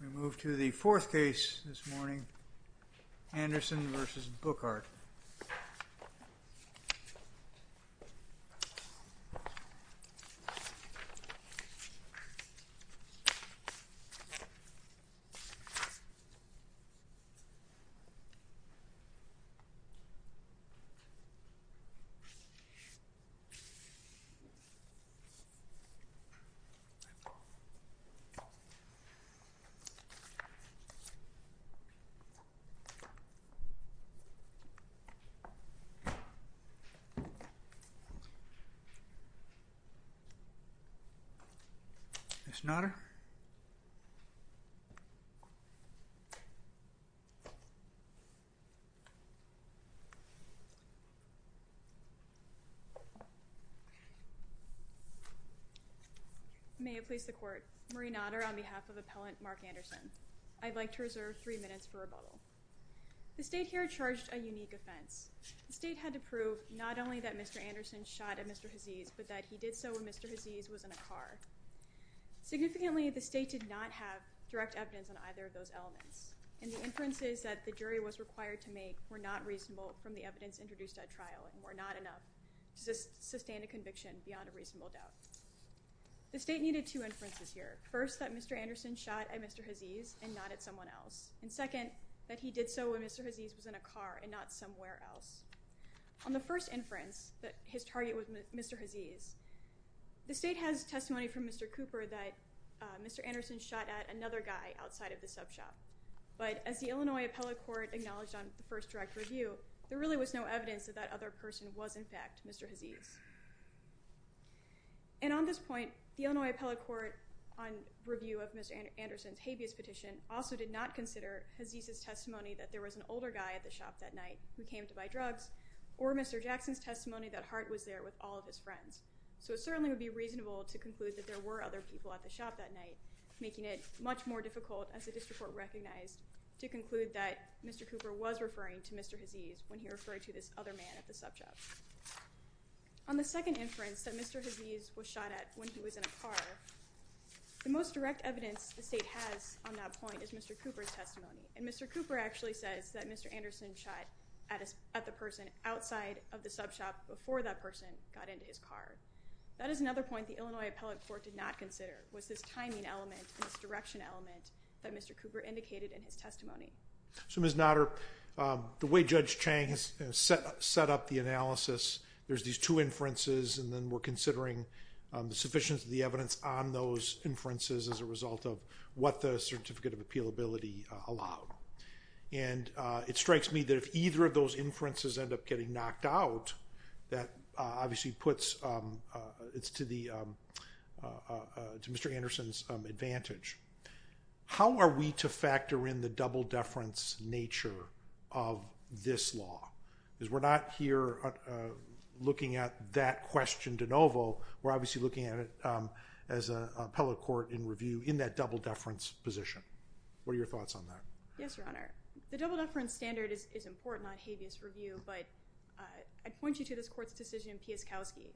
We move to the fourth case this morning, Anderson v. Brookhart. Ms. Nodder? Ms. Nodder? I may have placed the court. Marie Nodder on behalf of appellant Mark Anderson. I'd like to reserve three minutes for rebuttal. The state here charged a unique offense. The state had to prove not only that Mr. Anderson shot at Mr. Hazese, but that he did so when Mr. Hazese was in a car. Significantly, the state did not have direct evidence on either of those elements. And the inferences that the jury was required to make were not reasonable from the evidence introduced at trial and were not enough to sustain a conviction beyond a reasonable doubt. The state needed two inferences here. First, that Mr. Anderson shot at Mr. Hazese and not at someone else. And second, that he did so when Mr. Hazese was in a car and not somewhere else. On the first inference, that his target was Mr. Hazese, the state has testimony from Mr. Cooper that Mr. Anderson shot at another guy outside of the sub shop. But as the Illinois appellate court acknowledged on the first direct review, there really was no evidence that that other person was, in fact, Mr. Hazese. And on this point, the Illinois appellate court on review of Mr. Anderson's habeas petition also did not consider Hazese's testimony that there was an older guy at the shop that night who came to buy drugs or Mr. Jackson's testimony that Hart was there with all of his friends. So it certainly would be reasonable to conclude that there were other people at the shop that night, making it much more difficult, as the district court recognized, to conclude that Mr. Cooper was referring to Mr. Hazese when he referred to this other man at the sub shop. On the second inference, that Mr. Hazese was shot at when he was in a car, the most direct evidence the state has on that point is Mr. Cooper's testimony. And Mr. Cooper actually says that Mr. Anderson shot at the person outside of the sub shop before that person got into his car. That is another point the Illinois appellate court did not consider was this timing element and this direction element that Mr. Cooper indicated in his testimony. So, Ms. Nodder, the way Judge Chang has set up the analysis, there's these two inferences, and then we're considering the sufficiency of the evidence on those inferences as a result of what the certificate of appealability allowed. And it strikes me that if either of those inferences end up getting knocked out, that obviously puts it to Mr. Anderson's advantage. How are we to factor in the double-deference nature of this law? Because we're not here looking at that question de novo. We're obviously looking at it as an appellate court in review in that double-deference position. What are your thoughts on that? Yes, Your Honor. The double-deference standard is important on habeas review, but I'd point you to this court's decision in Pieskowski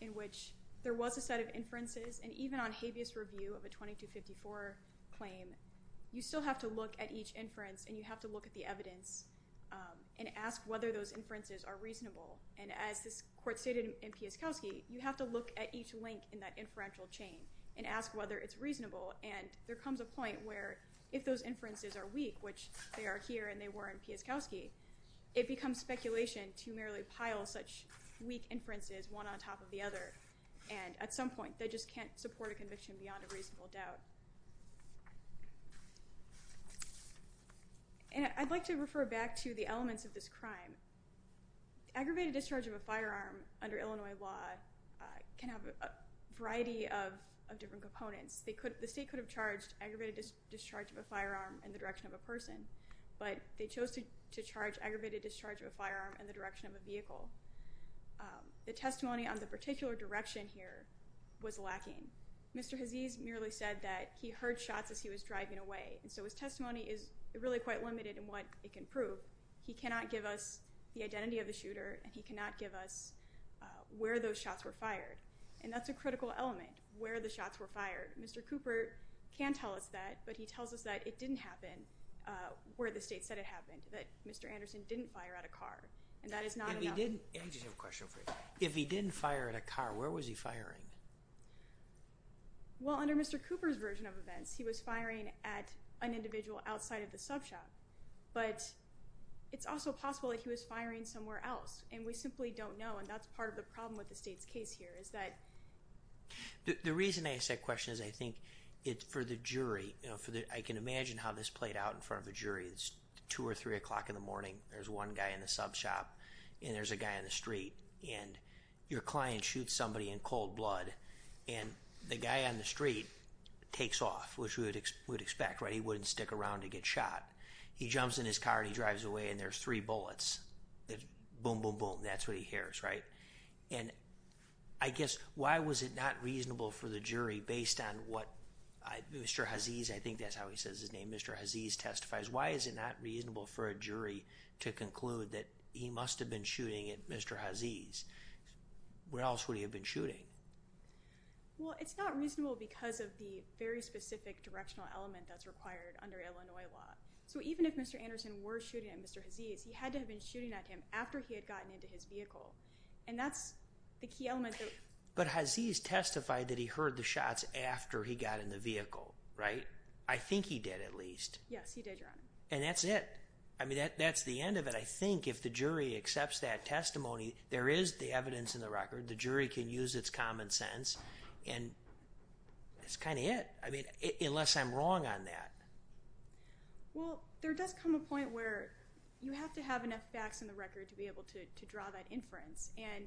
in which there was a set of inferences, and even on habeas review of a 2254 claim, you still have to look at each inference and you have to look at the evidence and ask whether those inferences are reasonable. And as this court stated in Pieskowski, you have to look at each link in that inferential chain and ask whether it's reasonable, and there comes a point where if those inferences are weak, which they are here and they were in Pieskowski, it becomes speculation to merely pile such weak inferences one on top of the other, and at some point they just can't support a conviction beyond a reasonable doubt. I'd like to refer back to the elements of this crime. Aggravated discharge of a firearm under Illinois law can have a variety of different components. The state could have charged aggravated discharge of a firearm in the direction of a person, but they chose to charge aggravated discharge of a firearm in the direction of a vehicle. The testimony on the particular direction here was lacking. Mr. Hazese merely said that he heard shots as he was driving away, and so his testimony is really quite limited in what it can prove. He cannot give us the identity of the shooter, and he cannot give us where those shots were fired, and that's a critical element, where the shots were fired. Mr. Cooper can tell us that, but he tells us that it didn't happen where the state said it happened, that Mr. Anderson didn't fire at a car, and that is not enough. I just have a question for you. If he didn't fire at a car, where was he firing? Well, under Mr. Cooper's version of events, he was firing at an individual outside of the sub shop, but it's also possible that he was firing somewhere else, and we simply don't know, and that's part of the problem with the state's case here is that— The reason I ask that question is I think it's for the jury. I can imagine how this played out in front of a jury. It's 2 or 3 o'clock in the morning. There's one guy in the sub shop, and there's a guy on the street, and your client shoots somebody in cold blood, and the guy on the street takes off, which we would expect, right? He jumps in his car, and he drives away, and there's three bullets. Boom, boom, boom. That's what he hears, right? And I guess why was it not reasonable for the jury, based on what Mr. Haziz— I think that's how he says his name—Mr. Haziz testifies. Why is it not reasonable for a jury to conclude that he must have been shooting at Mr. Haziz? Where else would he have been shooting? Well, it's not reasonable because of the very specific directional element that's required under Illinois law. So even if Mr. Anderson were shooting at Mr. Haziz, he had to have been shooting at him after he had gotten into his vehicle, and that's the key element that— But Haziz testified that he heard the shots after he got in the vehicle, right? I think he did, at least. Yes, he did, Your Honor. And that's it. I mean, that's the end of it. I think if the jury accepts that testimony, there is the evidence in the record. The jury can use its common sense, and that's kind of it, unless I'm wrong on that. Well, there does come a point where you have to have enough facts in the record to be able to draw that inference, and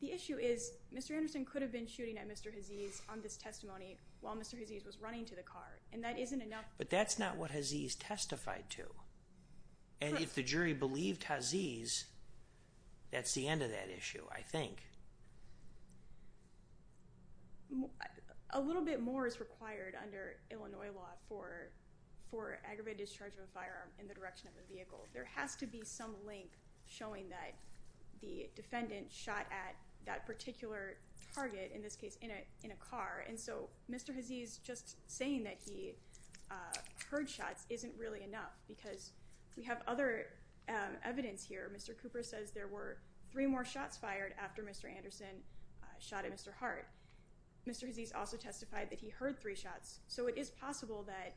the issue is Mr. Anderson could have been shooting at Mr. Haziz on this testimony while Mr. Haziz was running to the car, and that isn't enough— But that's not what Haziz testified to. And if the jury believed Haziz, that's the end of that issue, I think. A little bit more is required under Illinois law for aggravated discharge of a firearm in the direction of a vehicle. There has to be some link showing that the defendant shot at that particular target, in this case, in a car, and so Mr. Haziz just saying that he heard shots isn't really enough because we have other evidence here. Mr. Cooper says there were three more shots fired after Mr. Anderson shot at Mr. Hart. Mr. Haziz also testified that he heard three shots, so it is possible that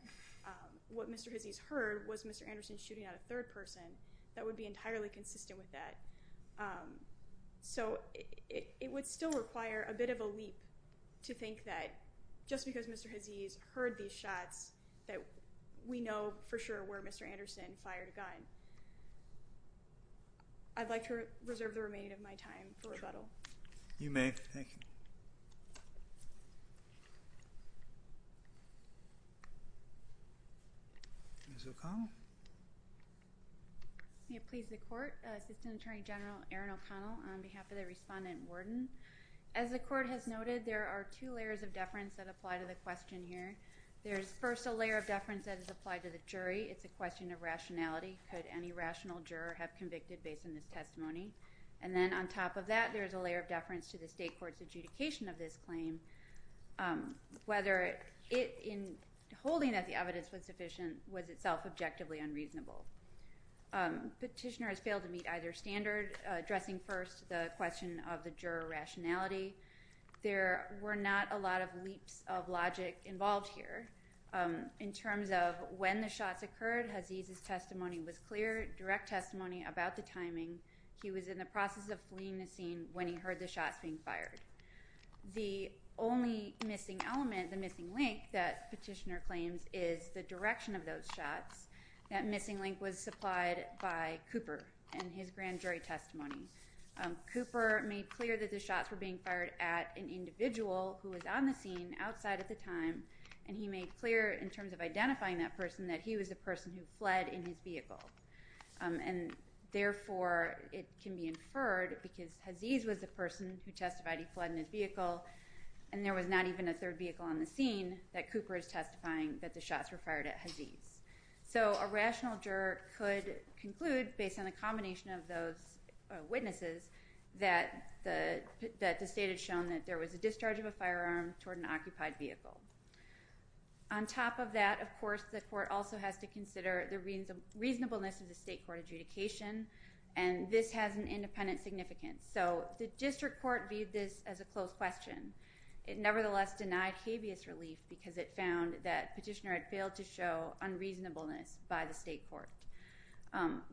what Mr. Haziz heard was Mr. Anderson shooting at a third person. That would be entirely consistent with that. So it would still require a bit of a leap to think that just because Mr. Haziz heard these shots, that we know for sure where Mr. Anderson fired a gun. I'd like to reserve the remaining of my time for rebuttal. You may. Thank you. Ms. O'Connell? May it please the Court, Assistant Attorney General Aaron O'Connell on behalf of the Respondent Warden. As the Court has noted, there are two layers of deference that apply to the question here. There is first a layer of deference that is applied to the jury. It's a question of rationality. Could any rational juror have convicted based on this testimony? And then on top of that, there is a layer of deference to the state court's adjudication of this claim, whether in holding that the evidence was sufficient was itself objectively unreasonable. Petitioner has failed to meet either standard, addressing first the question of the juror rationality. There were not a lot of leaps of logic involved here. In terms of when the shots occurred, Haziz's testimony was clear, direct testimony about the timing. He was in the process of fleeing the scene when he heard the shots being fired. The only missing element, the missing link, that Petitioner claims is the direction of those shots, that missing link was supplied by Cooper in his grand jury testimony. Cooper made clear that the shots were being fired at an individual who was on the scene outside at the time, and he made clear in terms of identifying that person that he was the person who fled in his vehicle. And therefore, it can be inferred, because Haziz was the person who testified he fled in his vehicle, and there was not even a third vehicle on the scene, that Cooper is testifying that the shots were fired at Haziz. So a rational juror could conclude, based on a combination of those witnesses, that the state had shown that there was a discharge of a firearm toward an occupied vehicle. On top of that, of course, the court also has to consider the reasonableness of the state court adjudication, and this has an independent significance. So the district court viewed this as a closed question. It nevertheless denied habeas relief because it found that Petitioner had failed to show unreasonableness by the state court.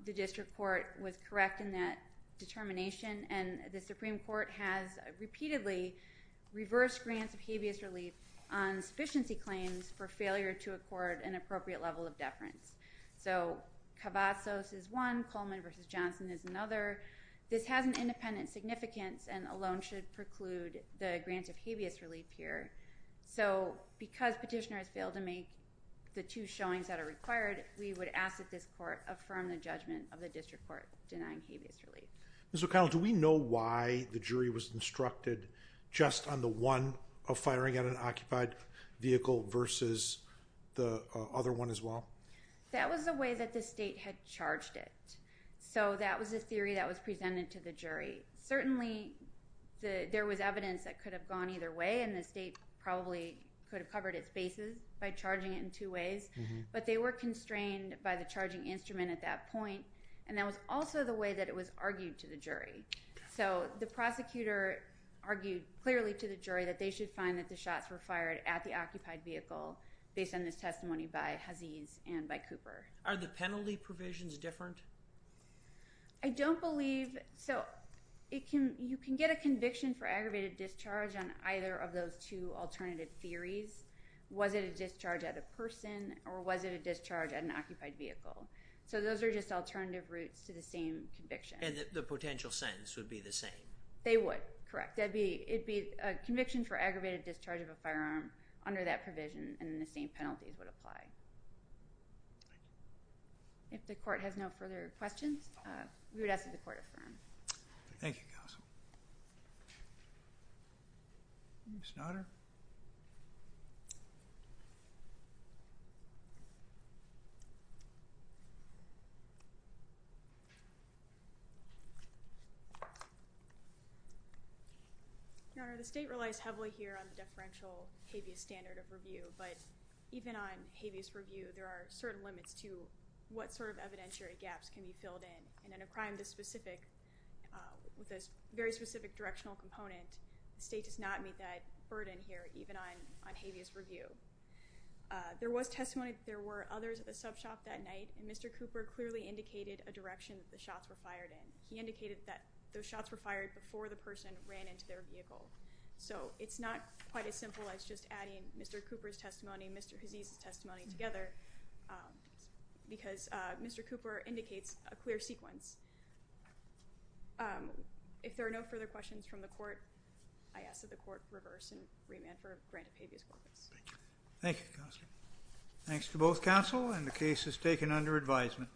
The district court was correct in that determination, and the Supreme Court has repeatedly reversed grants of habeas relief on sufficiency claims for failure to accord an appropriate level of deference. So Cavazos is one, Coleman v. Johnson is another. This has an independent significance and alone should preclude the grant of habeas relief here. So because Petitioner has failed to make the two showings that are required, we would ask that this court affirm the judgment of the district court denying habeas relief. Ms. O'Connell, do we know why the jury was instructed just on the one of firing at an occupied vehicle versus the other one as well? That was the way that the state had charged it. So that was the theory that was presented to the jury. Certainly there was evidence that could have gone either way, and the state probably could have covered its bases by charging it in two ways, but they were constrained by the charging instrument at that point, and that was also the way that it was argued to the jury. So the prosecutor argued clearly to the jury that they should find that the shots were fired at the occupied vehicle based on this testimony by Aziz and by Cooper. Are the penalty provisions different? I don't believe so. You can get a conviction for aggravated discharge on either of those two alternative theories. Was it a discharge at a person or was it a discharge at an occupied vehicle? So those are just alternative routes to the same conviction. And the potential sentence would be the same? They would, correct. It would be a conviction for aggravated discharge of a firearm under that provision, and the same penalties would apply. If the court has no further questions, we would ask that the court affirm. Thank you, counsel. Ms. Nodder? Your Honor, the state relies heavily here on the deferential habeas standard of review, but even on habeas review, there are certain limits to what sort of evidentiary gaps can be filled in, and in a crime with a very specific directional component, the state does not meet that burden here. Even on habeas review. There was testimony that there were others at the sub shop that night, and Mr. Cooper clearly indicated a direction that the shots were fired in. He indicated that those shots were fired before the person ran into their vehicle. So it's not quite as simple as just adding Mr. Cooper's testimony and Mr. Aziz's testimony together because Mr. Cooper indicates a clear sequence. If there are no further questions from the court, I ask that the court reverse and remand for a grant of habeas corpus. Thank you. Thank you, counsel. Thanks to both counsel, and the case is taken under advisement.